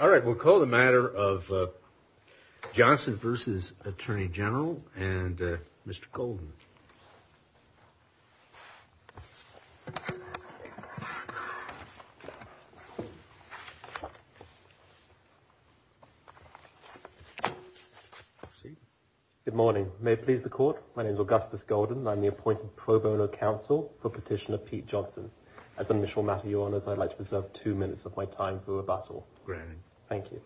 All right, we'll call the matter of Johnson v. Attorney General and Mr. Golden. Good morning. May it please the court, my name is Augustus Golden. I'm the appointed pro bono counsel for petitioner Pete Johnson. As an initial matter, your honors, I'd like to preserve two minutes of my time for rebuttal. Great. Thank you.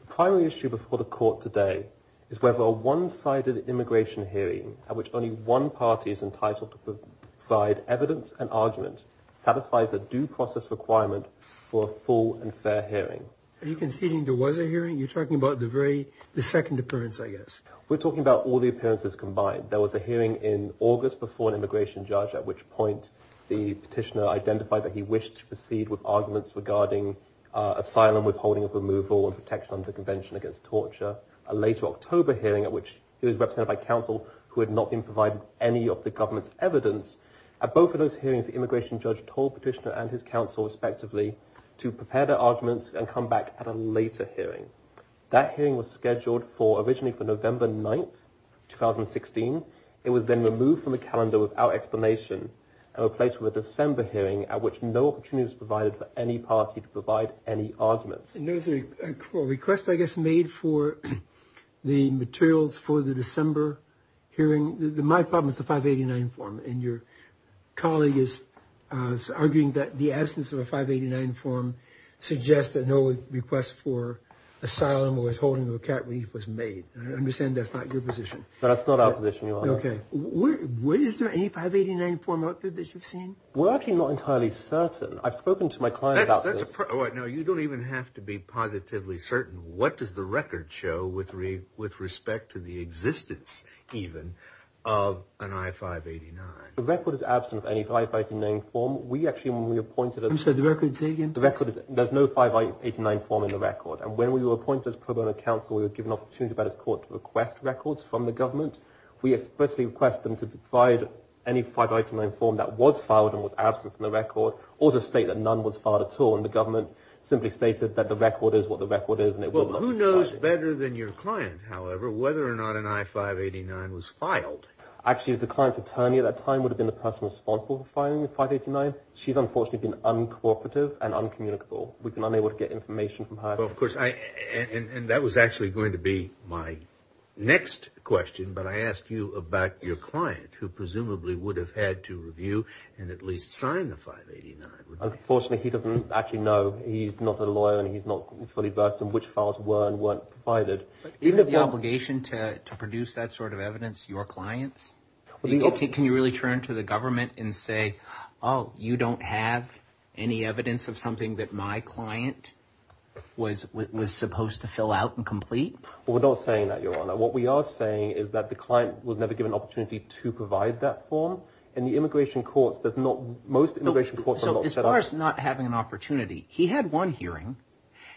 The primary issue before the court today is whether a one-sided immigration hearing at which only one party is entitled to provide evidence and argument satisfies a due process requirement for a full and fair hearing. Are you conceding there was a hearing? You're talking about the very, the second appearance, I guess. We're talking about all the appearances combined. There was a hearing in August before an immigration judge, at which point the petitioner identified that he wished to proceed with arguments regarding asylum, withholding of removal and protection under convention against torture. A later October hearing at which he was represented by counsel who had not been provided any of the government's evidence. At both of those hearings, the immigration judge told petitioner and his counsel, respectively, to prepare their arguments and come back at a later hearing. That hearing was scheduled for originally for November 9th, 2016. It was then removed from the calendar without explanation and replaced with a December hearing at which no opportunity was provided for any party to provide any arguments. There was a request, I guess, made for the materials for the December hearing. My problem is the 589 form. And your colleague is arguing that the absence of a 589 form suggests that no request for asylum, withholding of a cat relief was made. I understand that's not your position. That's not our position, Your Honor. Okay. Is there any 589 form out there that you've seen? We're actually not entirely certain. I've spoken to my client about this. You don't even have to be positively certain. What does the record show with respect to the existence, even, of an I-589? The record is absent of any 589 form. We actually, when we appointed... You said the record's vacant? The record is... There's no 589 form in the record. And when we were appointed as pro bono counsel, we were given an opportunity by this court to request records from the government. We expressly request them to provide any 589 form that was filed and was absent from the record, or to state that none was filed at all. And the government simply stated that the record is what the record is and it will not be filed. Well, who knows better than your client, however, whether or not an I-589 was filed? Actually, the client's attorney at that time would have been the person responsible for filing the 589. She's unfortunately been uncooperative and uncommunicable. We've been unable to get information from her. And that was actually going to be my next question, but I asked you about your client, who presumably would have had to review and at least sign the 589. Unfortunately, he doesn't actually know. He's not a lawyer and he's not fully versed in which files were and weren't provided. Isn't it your obligation to produce that sort of evidence to your clients? Can you really turn to the government and say, oh, you don't have any evidence of something that my client was supposed to fill out and complete? Well, we're not saying that, Your Honor. What we are saying is that the client was never given an opportunity to provide that form. And the immigration courts, most immigration courts are not set up… As far as not having an opportunity, he had one hearing.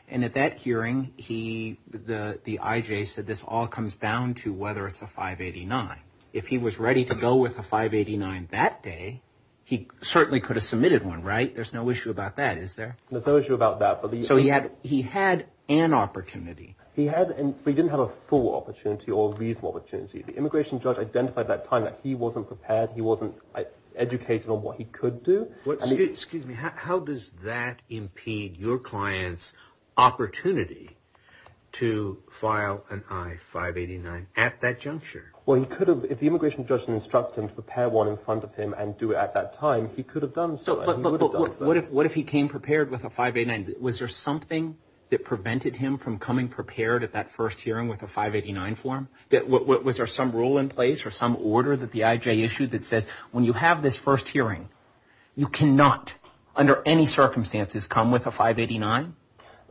And at that hearing, the IJ said this all comes down to whether it's a 589. If he was ready to go with a 589 that day, he certainly could have submitted one, right? There's no issue about that, is there? There's no issue about that. So he had an opportunity. He had, but he didn't have a full opportunity or reasonable opportunity. The immigration judge identified at that time that he wasn't prepared, he wasn't educated on what he could do. Excuse me. How does that impede your client's opportunity to file an I-589 at that juncture? Well, he could have. If the immigration judge had instructed him to prepare one in front of him and do it at that time, he could have done so. But what if he came prepared with a 589? Was there something that prevented him from coming prepared at that first hearing with a 589 form? Was there some rule in place or some order that the IJ issued that says when you have this first hearing, you cannot, under any circumstances, come with a 589?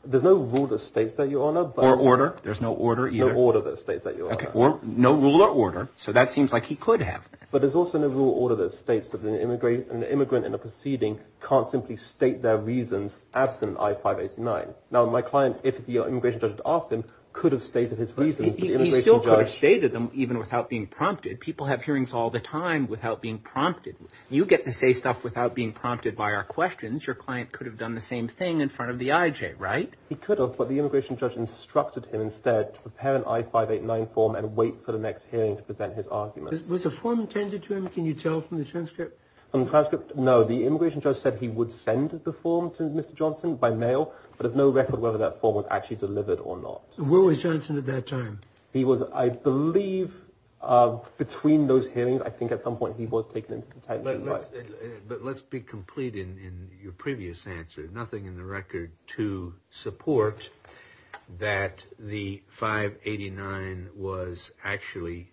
There's no rule that states that, Your Honor. Or order. There's no order either. No order that states that, Your Honor. No rule or order. So that seems like he could have. But there's also no rule or order that states that an immigrant in a proceeding can't simply state their reasons absent an I-589. Now, my client, if the immigration judge had asked him, could have stated his reasons. He still could have stated them even without being prompted. People have hearings all the time without being prompted. You get to say stuff without being prompted by our questions. Your client could have done the same thing in front of the IJ, right? He could have, but the immigration judge instructed him instead to prepare an I-589 form and wait for the next hearing to present his arguments. Was a form intended to him? Can you tell from the transcript? From the transcript, no. The immigration judge said he would send the form to Mr. Johnson by mail, but there's no record whether that form was actually delivered or not. Where was Johnson at that time? He was, I believe, between those hearings, I think at some point he was taken into detention. But let's be complete in your previous answer. Nothing in the record to support that the I-589 was actually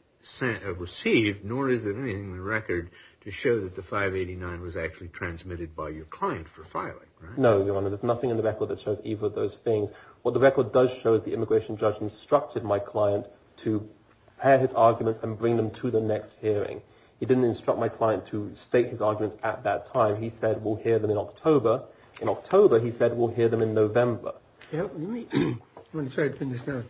received, nor is there anything in the record to show that the I-589 was actually transmitted by your client for filing, right? No, Your Honor. There's nothing in the record that shows either of those things. What the record does show is the immigration judge instructed my client to prepare his arguments and bring them to the next hearing. He didn't instruct my client to state his arguments at that time. He said we'll hear them in October. In October, he said we'll hear them in November. Let me try to pin this down.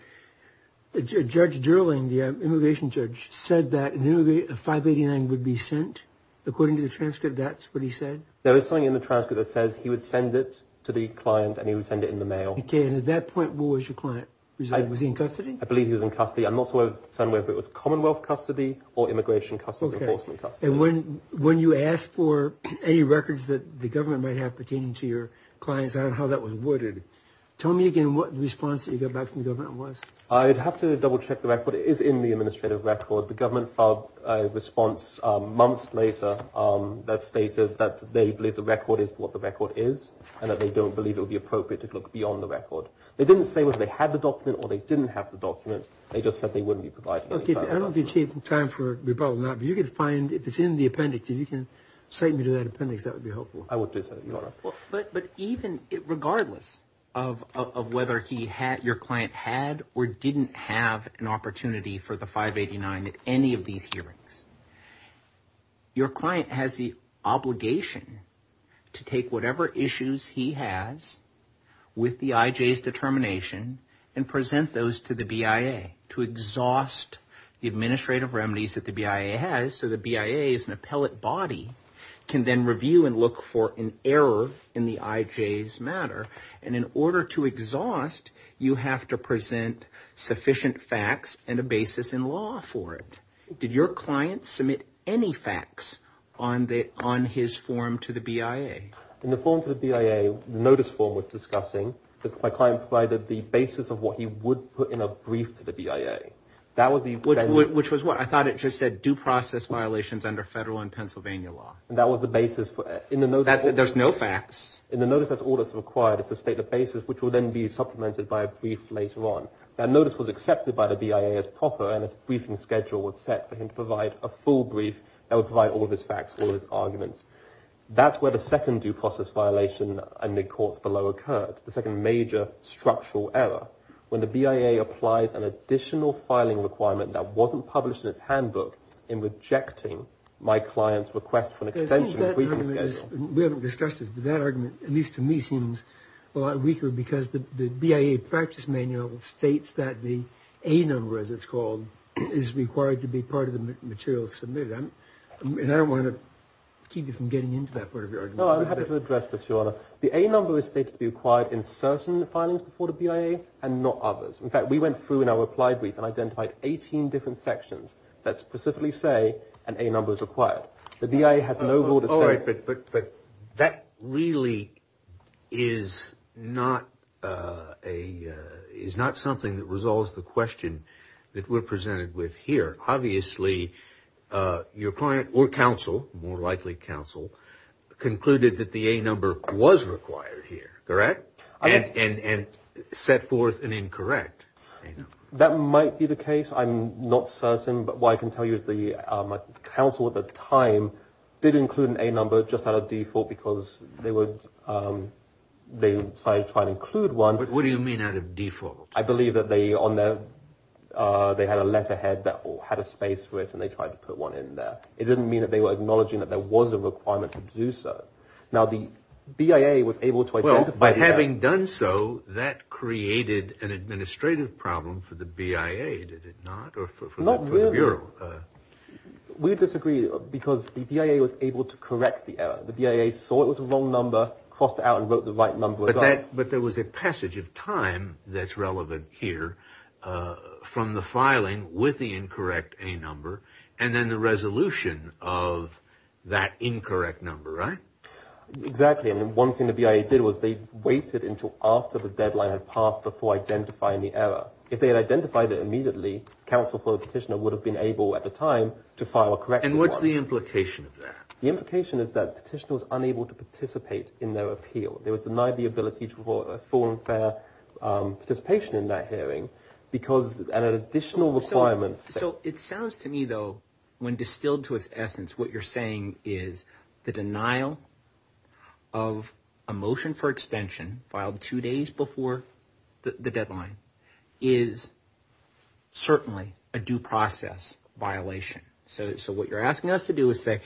Judge Durling, the immigration judge, said that an I-589 would be sent? According to the transcript, that's what he said? There is something in the transcript that says he would send it to the client and he would send it in the mail. Okay, and at that point, what was your client? Was he in custody? I believe he was in custody. I'm not sure whether it was Commonwealth custody or Immigration Customs Enforcement custody. And when you asked for any records that the government might have pertaining to your clients and how that was worded, tell me again what the response that you got back from the government was. I'd have to double check the record. It is in the administrative record. The government filed a response months later that stated that they believe the record is what the record is and that they don't believe it would be appropriate to look beyond the record. They didn't say whether they had the document or they didn't have the document. They just said they wouldn't be providing any further information. Okay, I don't have any time for rebuttal now, but you can find, if it's in the appendix, if you can cite me to that appendix, that would be helpful. I would do so, Your Honor. But even regardless of whether your client had or didn't have an opportunity for the 589 at any of these hearings, your client has the obligation to take whatever issues he has with the IJ's determination and present those to the BIA to exhaust the administrative remedies that the BIA has. So the BIA as an appellate body can then review and look for an error in the IJ's matter, and in order to exhaust, you have to present sufficient facts and a basis in law for it. Did your client submit any facts on his form to the BIA? In the form to the BIA, the notice form was discussing, my client provided the basis of what he would put in a brief to the BIA. Which was what? I thought it just said due process violations under federal and Pennsylvania law. And that was the basis for it. There's no facts. In the notice, that's all that's required is to state the basis, which will then be supplemented by a brief later on. That notice was accepted by the BIA as proper, and a briefing schedule was set for him to provide a full brief that would provide all of his facts, all of his arguments. That's where the second due process violation in the courts below occurred, the second major structural error. When the BIA applied an additional filing requirement that wasn't published in its handbook in rejecting my client's request for an extension of a briefing schedule. We haven't discussed this, but that argument, at least to me, seems a lot weaker because the BIA practice manual states that the A number, as it's called, is required to be part of the material submitted. And I don't want to keep you from getting into that part of your argument. No, I'm happy to address this, Your Honor. The A number is stated to be required in certain filings before the BIA and not others. In fact, we went through in our reply brief and identified 18 different sections that specifically say an A number is required. The BIA has no rule that says- All right, but that really is not something that resolves the question that we're presented with here. Obviously, your client or counsel, more likely counsel, concluded that the A number was required here, correct? And set forth an incorrect A number. That might be the case. I'm not certain, but what I can tell you is the counsel at the time did include an A number just out of default because they decided to try and include one. But what do you mean out of default? I believe that they had a letterhead that had a space for it, and they tried to put one in there. It didn't mean that they were acknowledging that there was a requirement to do so. Now, the BIA was able to identify- Well, by having done so, that created an administrative problem for the BIA, did it not, or for the Bureau? We disagree because the BIA was able to correct the error. The BIA saw it was the wrong number, crossed it out, and wrote the right number. But there was a passage of time that's relevant here from the filing with the incorrect A number and then the resolution of that incorrect number, right? Exactly. And one thing the BIA did was they waited until after the deadline had passed before identifying the error. If they had identified it immediately, counsel for the petitioner would have been able at the time to file a corrective order. And what's the implication of that? The implication is that the petitioner was unable to participate in their appeal. They were denied the ability for a full and fair participation in that hearing because an additional requirement- So it sounds to me, though, when distilled to its essence, what you're saying is the denial of a motion for extension filed two days before the deadline is certainly a due process violation. So what you're asking us to do is say,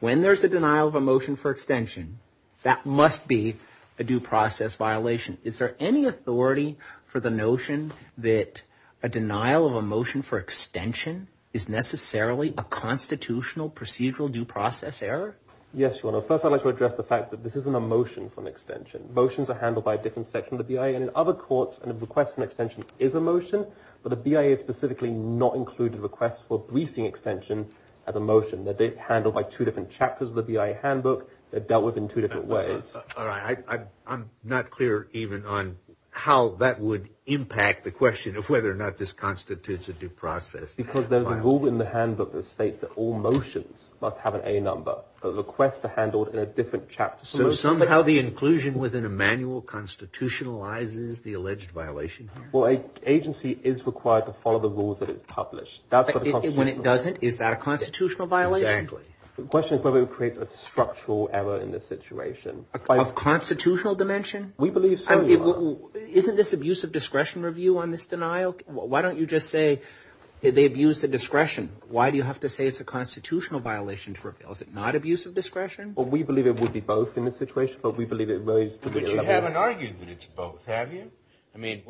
when there's a denial of a motion for extension, that must be a due process violation. Is there any authority for the notion that a denial of a motion for extension is necessarily a constitutional procedural due process error? Yes, Your Honor. First, I'd like to address the fact that this isn't a motion for an extension. Motions are handled by a different section of the BIA. In other courts, a request for an extension is a motion, but the BIA specifically does not include a request for a briefing extension as a motion. They're handled by two different chapters of the BIA handbook. They're dealt with in two different ways. All right. I'm not clear even on how that would impact the question of whether or not this constitutes a due process violation. Because there's a rule in the handbook that states that all motions must have an A number. Requests are handled in a different chapter. So somehow the inclusion within a manual constitutionalizes the alleged violation? Well, an agency is required to follow the rules that it's published. When it doesn't, is that a constitutional violation? Exactly. The question is whether it creates a structural error in this situation. Of constitutional dimension? We believe so, Your Honor. Isn't this abuse of discretion review on this denial? Why don't you just say they abused the discretion? Why do you have to say it's a constitutional violation to reveal? Is it not abuse of discretion? Well, we believe it would be both in this situation. But we believe it relates to the other. But you haven't argued that it's both, have you? I mean,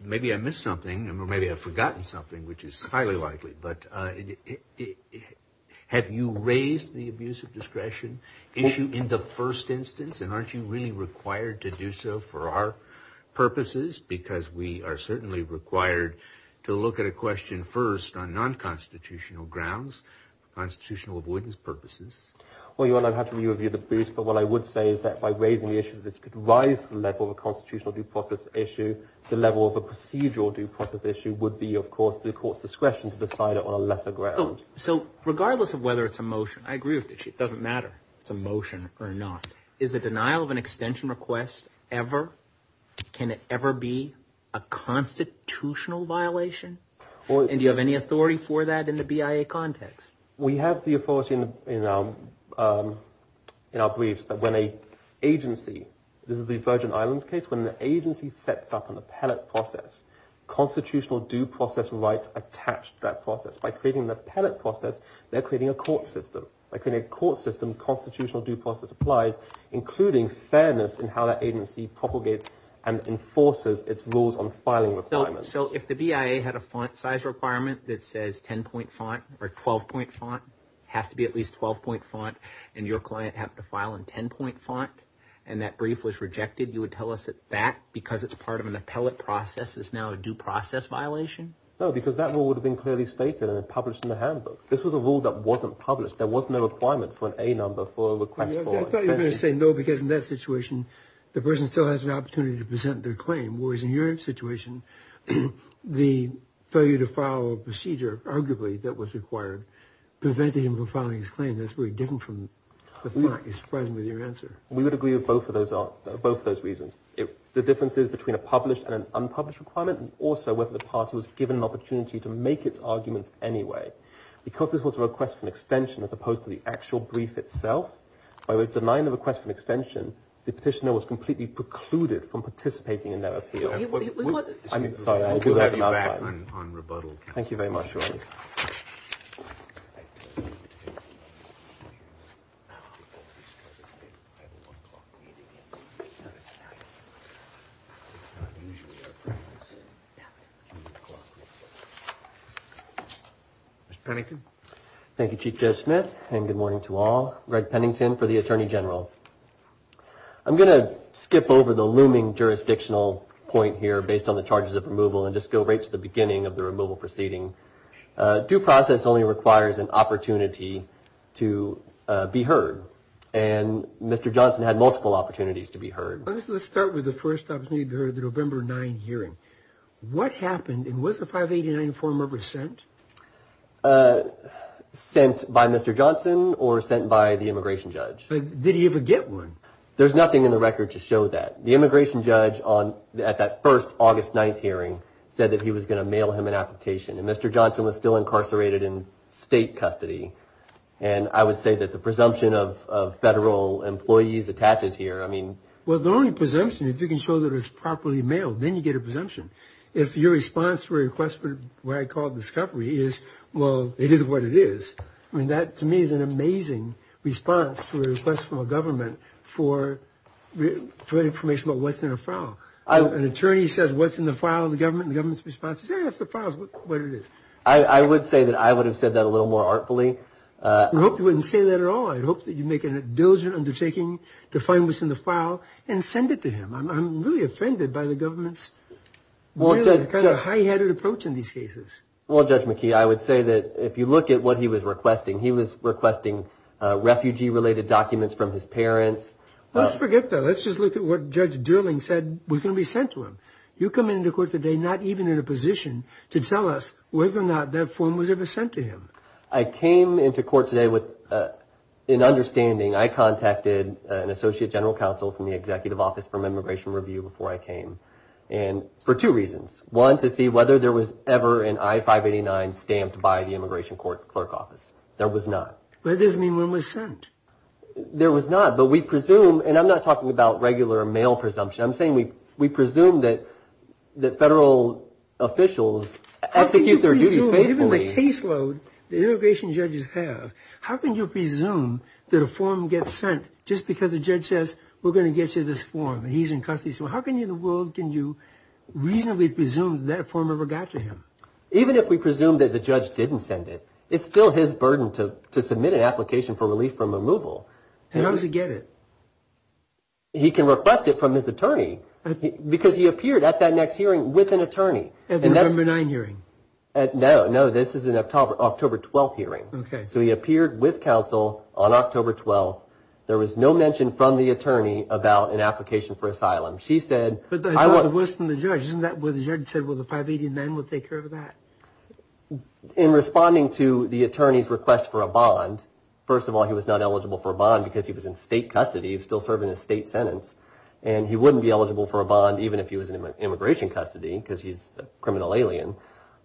maybe I missed something or maybe I've forgotten something, which is highly likely. But have you raised the abuse of discretion issue in the first instance? And aren't you really required to do so for our purposes? Because we are certainly required to look at a question first on nonconstitutional grounds, constitutional avoidance purposes. Well, Your Honor, I've had to re-review the abuse. But what I would say is that by raising the issue, this could rise the level of a constitutional due process issue. The level of a procedural due process issue would be, of course, the court's discretion to decide it on a lesser ground. So regardless of whether it's a motion, I agree with you. It doesn't matter if it's a motion or not. Is a denial of an extension request ever, can it ever be a constitutional violation? And do you have any authority for that in the BIA context? We have the authority in our briefs that when an agency, this is the Virgin Islands case, when an agency sets up an appellate process, constitutional due process rights attach to that process. By creating the appellate process, they're creating a court system. By creating a court system, constitutional due process applies, including fairness in how that agency propagates and enforces its rules on filing requirements. So if the BIA had a font size requirement that says 10-point font or 12-point font, it has to be at least 12-point font, and your client happened to file in 10-point font, and that brief was rejected, you would tell us that that, because it's part of an appellate process, is now a due process violation? No, because that rule would have been clearly stated and published in the handbook. This was a rule that wasn't published. There was no requirement for an A number for a request for extension. I thought you were going to say no because in that situation, the person still has an opportunity to present their claim. Whereas in your situation, the failure to file a procedure, arguably, that was required, prevented him from filing his claim. That's very different from the font. You surprised me with your answer. We would agree with both of those reasons. The difference is between a published and an unpublished requirement, and also whether the party was given an opportunity to make its arguments anyway. Because this was a request for an extension as opposed to the actual brief itself, by denying the request for an extension, the petitioner was completely precluded from participating in that appeal. I'm sorry, I do have to modify that. We'll get back on rebuttal. Thank you very much, Your Honor. Mr. Pennington. Thank you, Chief Judge Smith, and good morning to all. Greg Pennington for the Attorney General. I'm going to skip over the looming jurisdictional point here based on the charges of removal and just go right to the beginning of the removal proceeding. Due process only requires an opportunity to be heard, and Mr. Johnson had multiple opportunities to be heard. Let's start with the first opportunity to be heard, the November 9 hearing. What happened, and was the 589 form ever sent? Sent by Mr. Johnson or sent by the immigration judge? Did he ever get one? There's nothing in the record to show that. The immigration judge at that first August 9 hearing said that he was going to mail him an application, and Mr. Johnson was still incarcerated in state custody, and I would say that the presumption of federal employees attaches here. Well, the only presumption, if you can show that it was properly mailed, then you get a presumption. If your response to a request for what I call discovery is, well, it is what it is, I mean, that to me is an amazing response to a request from a government for information about what's in a file. An attorney says what's in the file in the government, and the government's response is, hey, that's the file, that's what it is. I would say that I would have said that a little more artfully. I hope you wouldn't say that at all. I hope that you make a diligent undertaking to find what's in the file and send it to him. I'm really offended by the government's really kind of high-headed approach in these cases. Well, Judge McKee, I would say that if you look at what he was requesting, he was requesting refugee-related documents from his parents. Let's forget that. Let's just look at what Judge Durling said was going to be sent to him. You come into court today not even in a position to tell us whether or not that form was ever sent to him. I came into court today with an understanding. I contacted an associate general counsel from the executive office from Immigration Review before I came for two reasons. One, to see whether there was ever an I-589 stamped by the immigration clerk office. There was not. That doesn't mean one was sent. There was not, but we presume, and I'm not talking about regular mail presumption. I'm saying we presume that federal officials execute their duties faithfully. Even the caseload, the immigration judges have. How can you presume that a form gets sent just because a judge says we're going to get you this form and he's in custody? So how can you in the world can you reasonably presume that form ever got to him? Even if we presume that the judge didn't send it, it's still his burden to submit an application for relief from removal. And how does he get it? He can request it from his attorney because he appeared at that next hearing with an attorney. At the November 9 hearing? No, no. This is an October 12th hearing. So he appeared with counsel on October 12th. There was no mention from the attorney about an application for asylum. She said. But it was from the judge. Isn't that what the judge said? Well, the I-589 would take care of that. In responding to the attorney's request for a bond. First of all, he was not eligible for a bond because he was in state custody. He was still serving a state sentence. And he wouldn't be eligible for a bond even if he was in immigration custody because he's a criminal alien.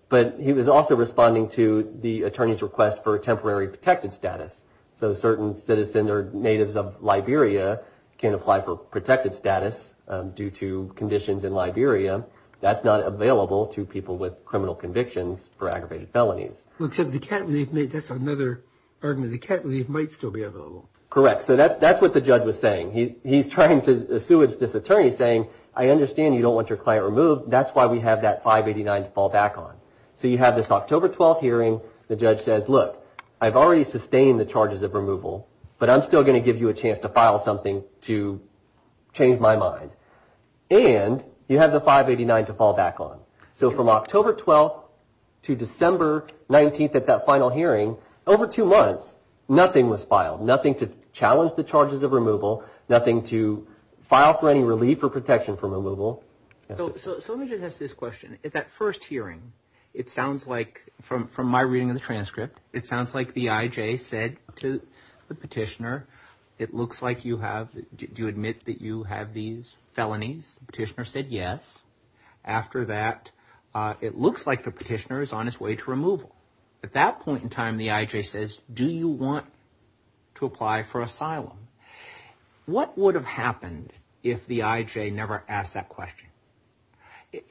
But he was also responding to the attorney's request for a temporary protected status. So certain citizens or natives of Liberia can apply for protected status due to conditions in Liberia. That's not available to people with criminal convictions for aggravated felonies. So the cat relief, that's another argument. The cat relief might still be available. Correct. So that's what the judge was saying. He's trying to assuage this attorney saying, I understand you don't want your client removed. That's why we have that I-589 to fall back on. So you have this October 12th hearing. The judge says, look, I've already sustained the charges of removal. But I'm still going to give you a chance to file something to change my mind. And you have the I-589 to fall back on. So from October 12th to December 19th at that final hearing, over two months, nothing was filed. Nothing to challenge the charges of removal. Nothing to file for any relief or protection from removal. So let me just ask this question. At that first hearing, it sounds like, from my reading of the transcript, it sounds like the IJ said to the petitioner, it looks like you have, do you admit that you have these felonies? The petitioner said yes. After that, it looks like the petitioner is on his way to removal. At that point in time, the IJ says, do you want to apply for asylum? What would have happened if the IJ never asked that question?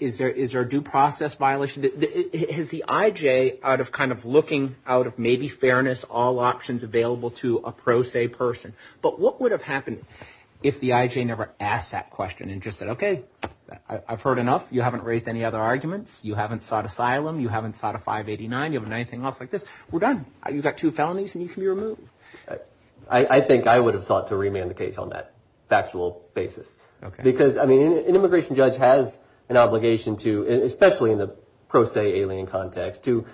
Is there a due process violation? Has the IJ, out of kind of looking out of maybe fairness, all options available to a pro se person, but what would have happened if the IJ never asked that question and just said, okay, I've heard enough. You haven't raised any other arguments. You haven't sought asylum. You haven't sought a 589. You haven't done anything else like this. We're done. You've got two felonies and you can be removed. I think I would have sought to remand the case on that factual basis. Okay. Because, I mean, an immigration judge has an obligation to, especially in the pro se alien context, to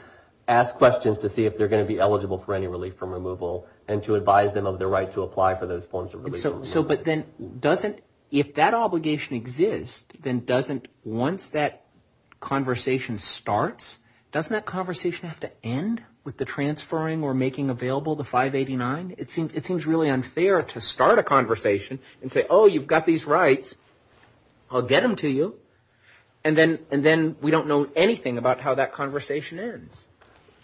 ask questions to see if they're going to be eligible for any relief from removal and to advise them of their right to apply for those forms of relief from removal. So, but then doesn't, if that obligation exists, then doesn't, once that conversation starts, doesn't that conversation have to end with the transferring or making available the 589? It seems really unfair to start a conversation and say, oh, you've got these rights. I'll get them to you. And then we don't know anything about how that conversation ends.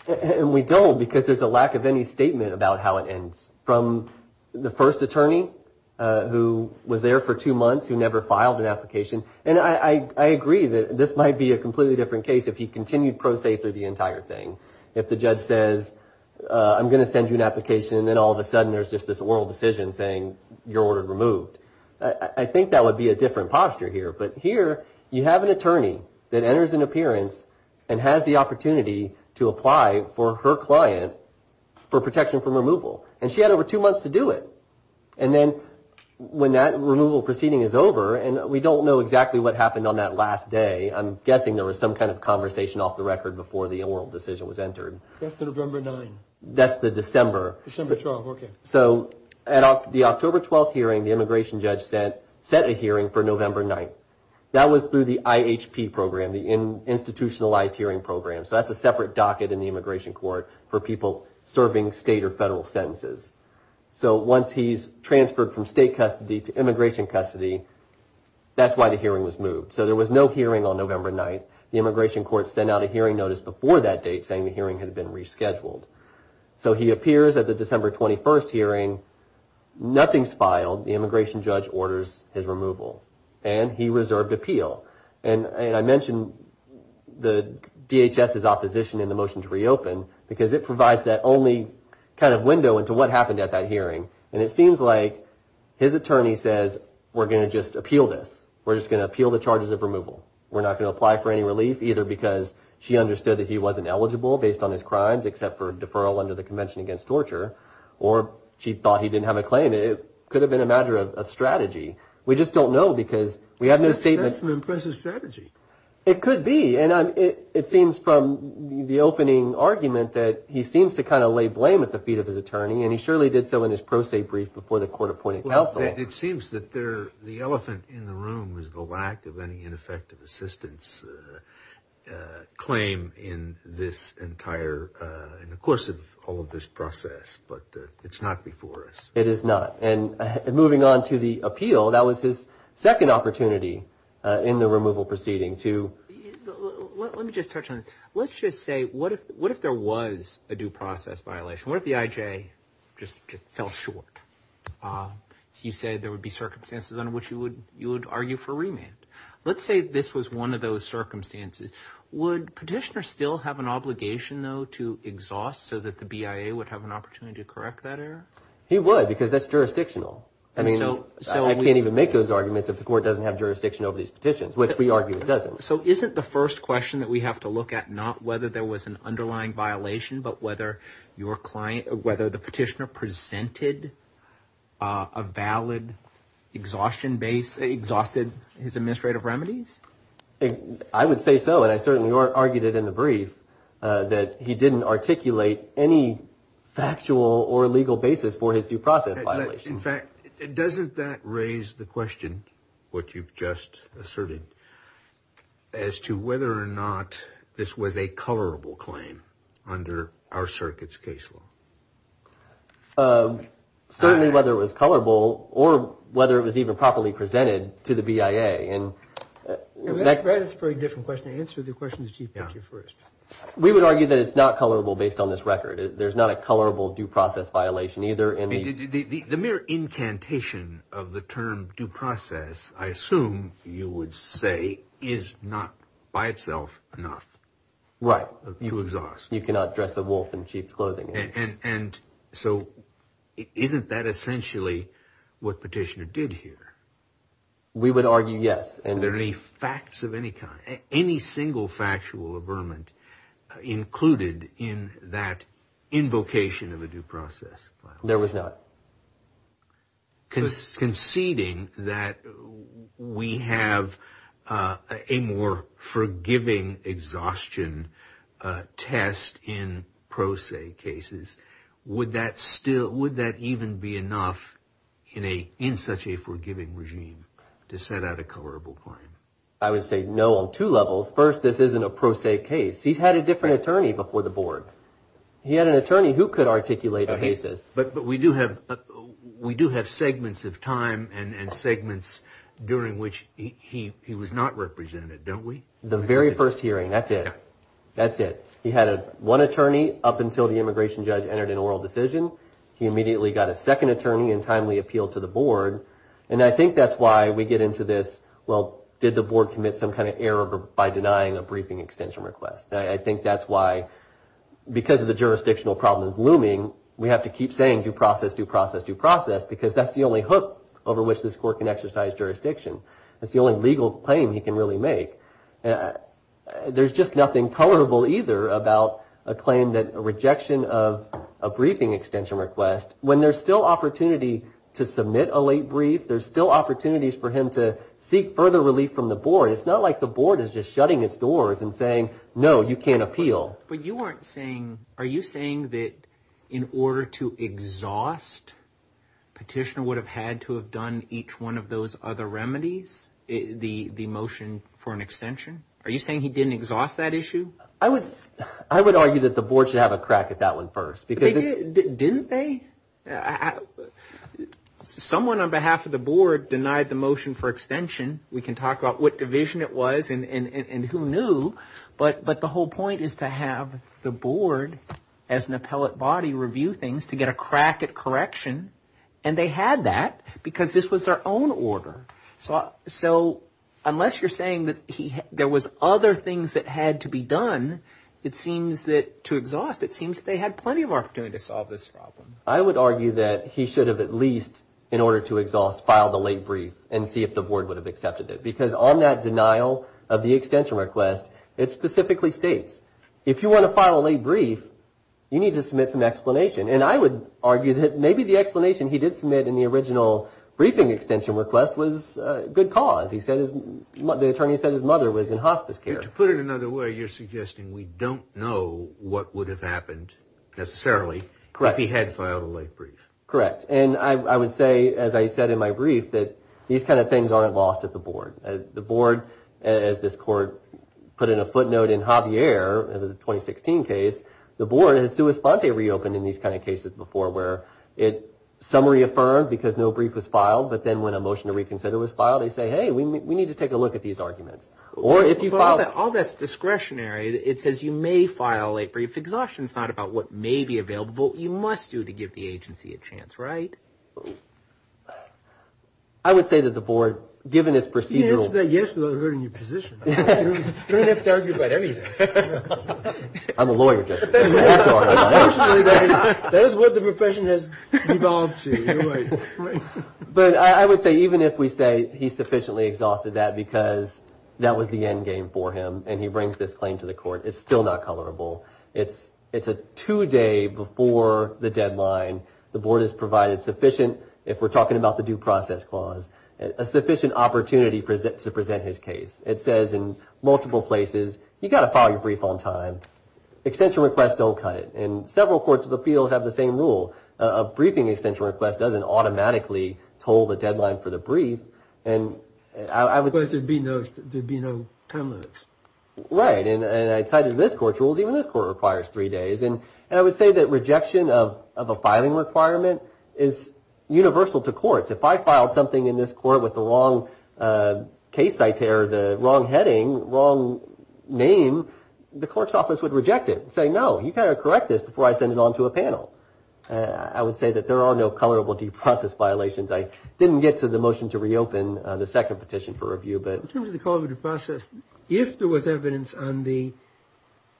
And we don't because there's a lack of any statement about how it ends. From the first attorney who was there for two months who never filed an application, and I agree that this might be a completely different case if he continued pro se through the entire thing. If the judge says, I'm going to send you an application, and then all of a sudden there's just this oral decision saying you're ordered removed. I think that would be a different posture here. But here you have an attorney that enters an appearance and has the opportunity to apply for her client for protection from removal. And she had over two months to do it. And then when that removal proceeding is over, and we don't know exactly what happened on that last day, I'm guessing there was some kind of conversation off the record before the oral decision was entered. That's the November 9. That's the December. December 12, okay. So at the October 12 hearing, the immigration judge set a hearing for November 9. That was through the IHP program, the Institutionalized Hearing Program. So that's a separate docket in the immigration court for people serving state or federal sentences. So once he's transferred from state custody to immigration custody, that's why the hearing was moved. So there was no hearing on November 9. The immigration court sent out a hearing notice before that date saying the hearing had been rescheduled. So he appears at the December 21 hearing. Nothing's filed. The immigration judge orders his removal. And he reserved appeal. And I mentioned the DHS's opposition in the motion to reopen because it provides that only kind of window into what happened at that hearing. And it seems like his attorney says, we're going to just appeal this. We're just going to appeal the charges of removal. We're not going to apply for any relief either because she understood that he wasn't eligible based on his crimes except for deferral under the Convention Against Torture. Or she thought he didn't have a claim. It could have been a matter of strategy. We just don't know because we have no statements. That's an impressive strategy. It could be. And it seems from the opening argument that he seems to kind of lay blame at the feet of his attorney. And he surely did so in his pro se brief before the court appointed counsel. It seems that the elephant in the room is the lack of any ineffective assistance claim in this entire, in the course of all of this process. But it's not before us. It is not. And moving on to the appeal, that was his second opportunity in the removal proceeding to. Let me just touch on it. Let's just say, what if there was a due process violation? What if the IJ just fell short? You say there would be circumstances under which you would argue for remand. Let's say this was one of those circumstances. Would petitioner still have an obligation, though, to exhaust so that the BIA would have an opportunity to correct that error? He would because that's jurisdictional. I mean, I can't even make those arguments if the court doesn't have jurisdiction over these petitions, which we argue it doesn't. So isn't the first question that we have to look at not whether there was an underlying violation but whether your client, whether the petitioner presented a valid exhaustion base, exhausted his administrative remedies? I would say so. And I certainly argued it in the brief that he didn't articulate any factual or legal basis for his due process violation. In fact, doesn't that raise the question, what you've just asserted, as to whether or not this was a colorable claim under our circuit's case law? Certainly whether it was colorable or whether it was even properly presented to the BIA. That's a very different question. Answer the question to the Chief Petty Officer first. We would argue that it's not colorable based on this record. There's not a colorable due process violation either. The mere incantation of the term due process, I assume you would say, is not by itself enough. Right. To exhaust. You cannot dress a wolf in sheep's clothing. And so isn't that essentially what petitioner did here? We would argue yes. Were there any facts of any kind, any single factual averment included in that invocation of a due process violation? There was not. Conceding that we have a more forgiving exhaustion test in pro se cases, would that even be enough in such a forgiving regime to set out a colorable claim? I would say no on two levels. First, this isn't a pro se case. He's had a different attorney before the board. He had an attorney who could articulate a basis. But we do have we do have segments of time and segments during which he was not represented, don't we? The very first hearing. That's it. That's it. He had one attorney up until the immigration judge entered an oral decision. He immediately got a second attorney and timely appeal to the board. And I think that's why we get into this. Well, did the board commit some kind of error by denying a briefing extension request? I think that's why because of the jurisdictional problem looming. We have to keep saying due process, due process, due process, because that's the only hook over which this court can exercise jurisdiction. That's the only legal claim he can really make. There's just nothing colorable either about a claim that a rejection of a briefing extension request when there's still opportunity to submit a late brief. There's still opportunities for him to seek further relief from the board. It's not like the board is just shutting its doors and saying, no, you can't appeal. But you aren't saying are you saying that in order to exhaust petitioner would have had to have done each one of those other remedies? The the motion for an extension. Are you saying he didn't exhaust that issue? I was I would argue that the board should have a crack at that one first, because didn't they? Someone on behalf of the board denied the motion for extension. We can talk about what division it was and who knew. But but the whole point is to have the board as an appellate body review things to get a crack at correction. And they had that because this was their own order. So so unless you're saying that there was other things that had to be done, it seems that to exhaust, it seems they had plenty of opportunity to solve this problem. I would argue that he should have at least in order to exhaust, file the late brief and see if the board would have accepted it. Because on that denial of the extension request, it specifically states if you want to file a brief, you need to submit some explanation. And I would argue that maybe the explanation he did submit in the original briefing extension request was good cause. He said the attorney said his mother was in hospice care. To put it another way, you're suggesting we don't know what would have happened necessarily. Correct. He had filed a late brief. Correct. And I would say, as I said in my brief, that these kind of things aren't lost at the board. The board, as this court put in a footnote in Javier, it was a 2016 case. The board has to respond. They reopened in these kind of cases before where it summary affirmed because no brief was filed. But then when a motion to reconsider was filed, they say, hey, we need to take a look at these arguments. All that's discretionary. It says you may file a brief. Exhaustion is not about what may be available. You must do to give the agency a chance. Right. I would say that the board, given its procedural. Yes. You don't have to argue about anything. I'm a lawyer. That is what the profession has evolved to. But I would say even if we say he sufficiently exhausted that because that was the end game for him and he brings this claim to the court. It's still not colorable. It's it's a two day before the deadline. The board has provided sufficient if we're talking about the due process clause, a sufficient opportunity to present his case. It says in multiple places, you've got to file your brief on time. Extension requests don't cut it. And several courts of the field have the same rule. A briefing extension request doesn't automatically told the deadline for the brief. And I would. There'd be no there'd be no time limits. Right. And I cited this court rules. Even this court requires three days. And I would say that rejection of a filing requirement is universal to courts. If I filed something in this court with the wrong case, I tear the wrong heading, wrong name. The court's office would reject it and say, no, you got to correct this before I send it on to a panel. I would say that there are no colorable due process violations. I didn't get to the motion to reopen the second petition for review. But in terms of the call to process, if there was evidence on the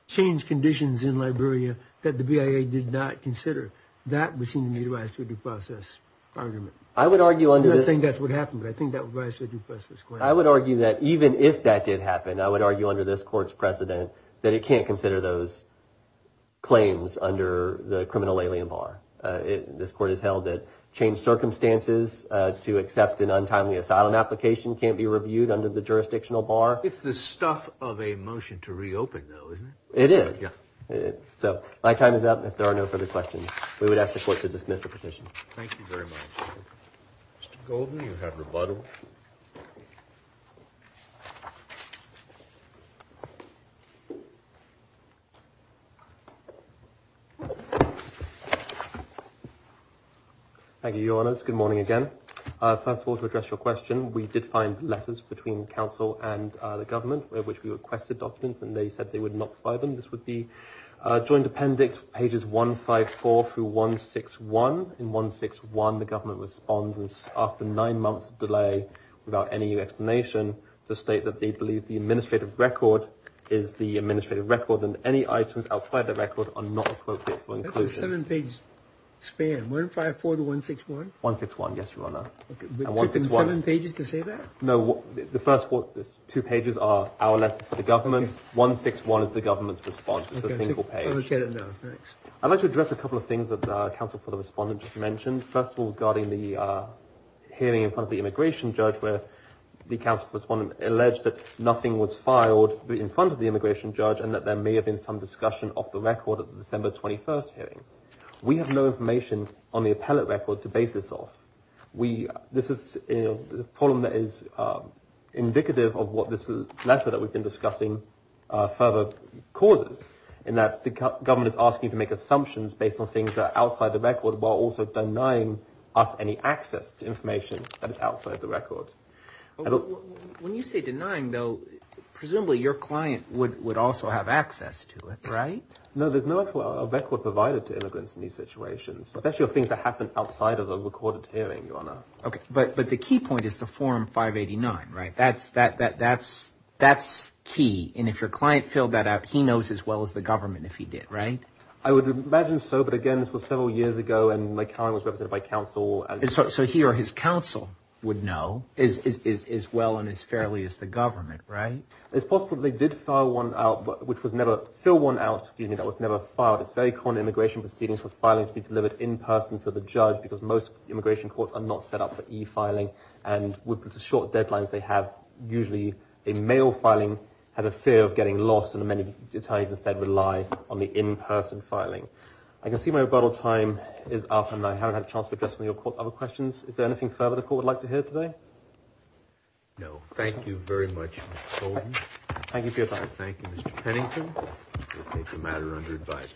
change conditions in Liberia that the BIA did not consider that, we seem to need to rise to a due process argument. I would argue under this thing. That's what happened. I think that was a due process. I would argue that even if that did happen, I would argue under this court's precedent that it can't consider those claims under the criminal alien bar. This court has held that change circumstances to accept an untimely asylum application can't be reviewed under the jurisdictional bar. It's the stuff of a motion to reopen, though, isn't it? It is. So my time is up. If there are no further questions, we would ask the court to dismiss the petition. Thank you very much. Mr. Goldman, you have rebuttal. Thank you, Your Honors. Good morning again. First of all, to address your question, we did find letters between counsel and the government of which we requested documents and they said they would not buy them. This would be a joint appendix, pages 154 through 161. In 161, the government responds after nine months of delay, without any explanation, to state that they believe the administrative record is the administrative record and any items outside the record are not appropriate for inclusion. That's a seven-page span. 154 to 161? 161, yes, Your Honor. It took them seven pages to say that? No, the first two pages are our letters to the government. 161 is the government's response. It's a single page. I'd like to address a couple of things that counsel for the respondent just mentioned. First of all, regarding the hearing in front of the immigration judge where the counsel for the respondent alleged that nothing was filed in front of the immigration judge and that there may have been some discussion of the record at the December 21st hearing. We have no information on the appellate record to base this off. This is a problem that is indicative of what this letter that we've been discussing further causes in that the government is asking to make assumptions based on things that are outside the record while also denying us any access to information that is outside the record. When you say denying, though, presumably your client would also have access to it, right? No, there's no actual record provided to immigrants in these situations, especially of things that happen outside of a recorded hearing, Your Honor. Okay, but the key point is the Form 589, right? That's key. And if your client filled that out, he knows as well as the government if he did, right? I would imagine so, but again, this was several years ago and my client was represented by counsel. So he or his counsel would know as well and as fairly as the government, right? It's possible they did fill one out that was never filed. It's very common in immigration proceedings for filing to be delivered in person to the judge because most immigration courts are not set up for e-filing. And with the short deadlines they have, usually a mail filing has a fear of getting lost and many attorneys instead rely on the in-person filing. I can see my rebuttal time is up and I haven't had a chance to address any of your court's other questions. Is there anything further the court would like to hear today? No. Thank you very much, Mr. Holden. Thank you for your time. Thank you, Mr. Pennington. We'll take the matter under advisement.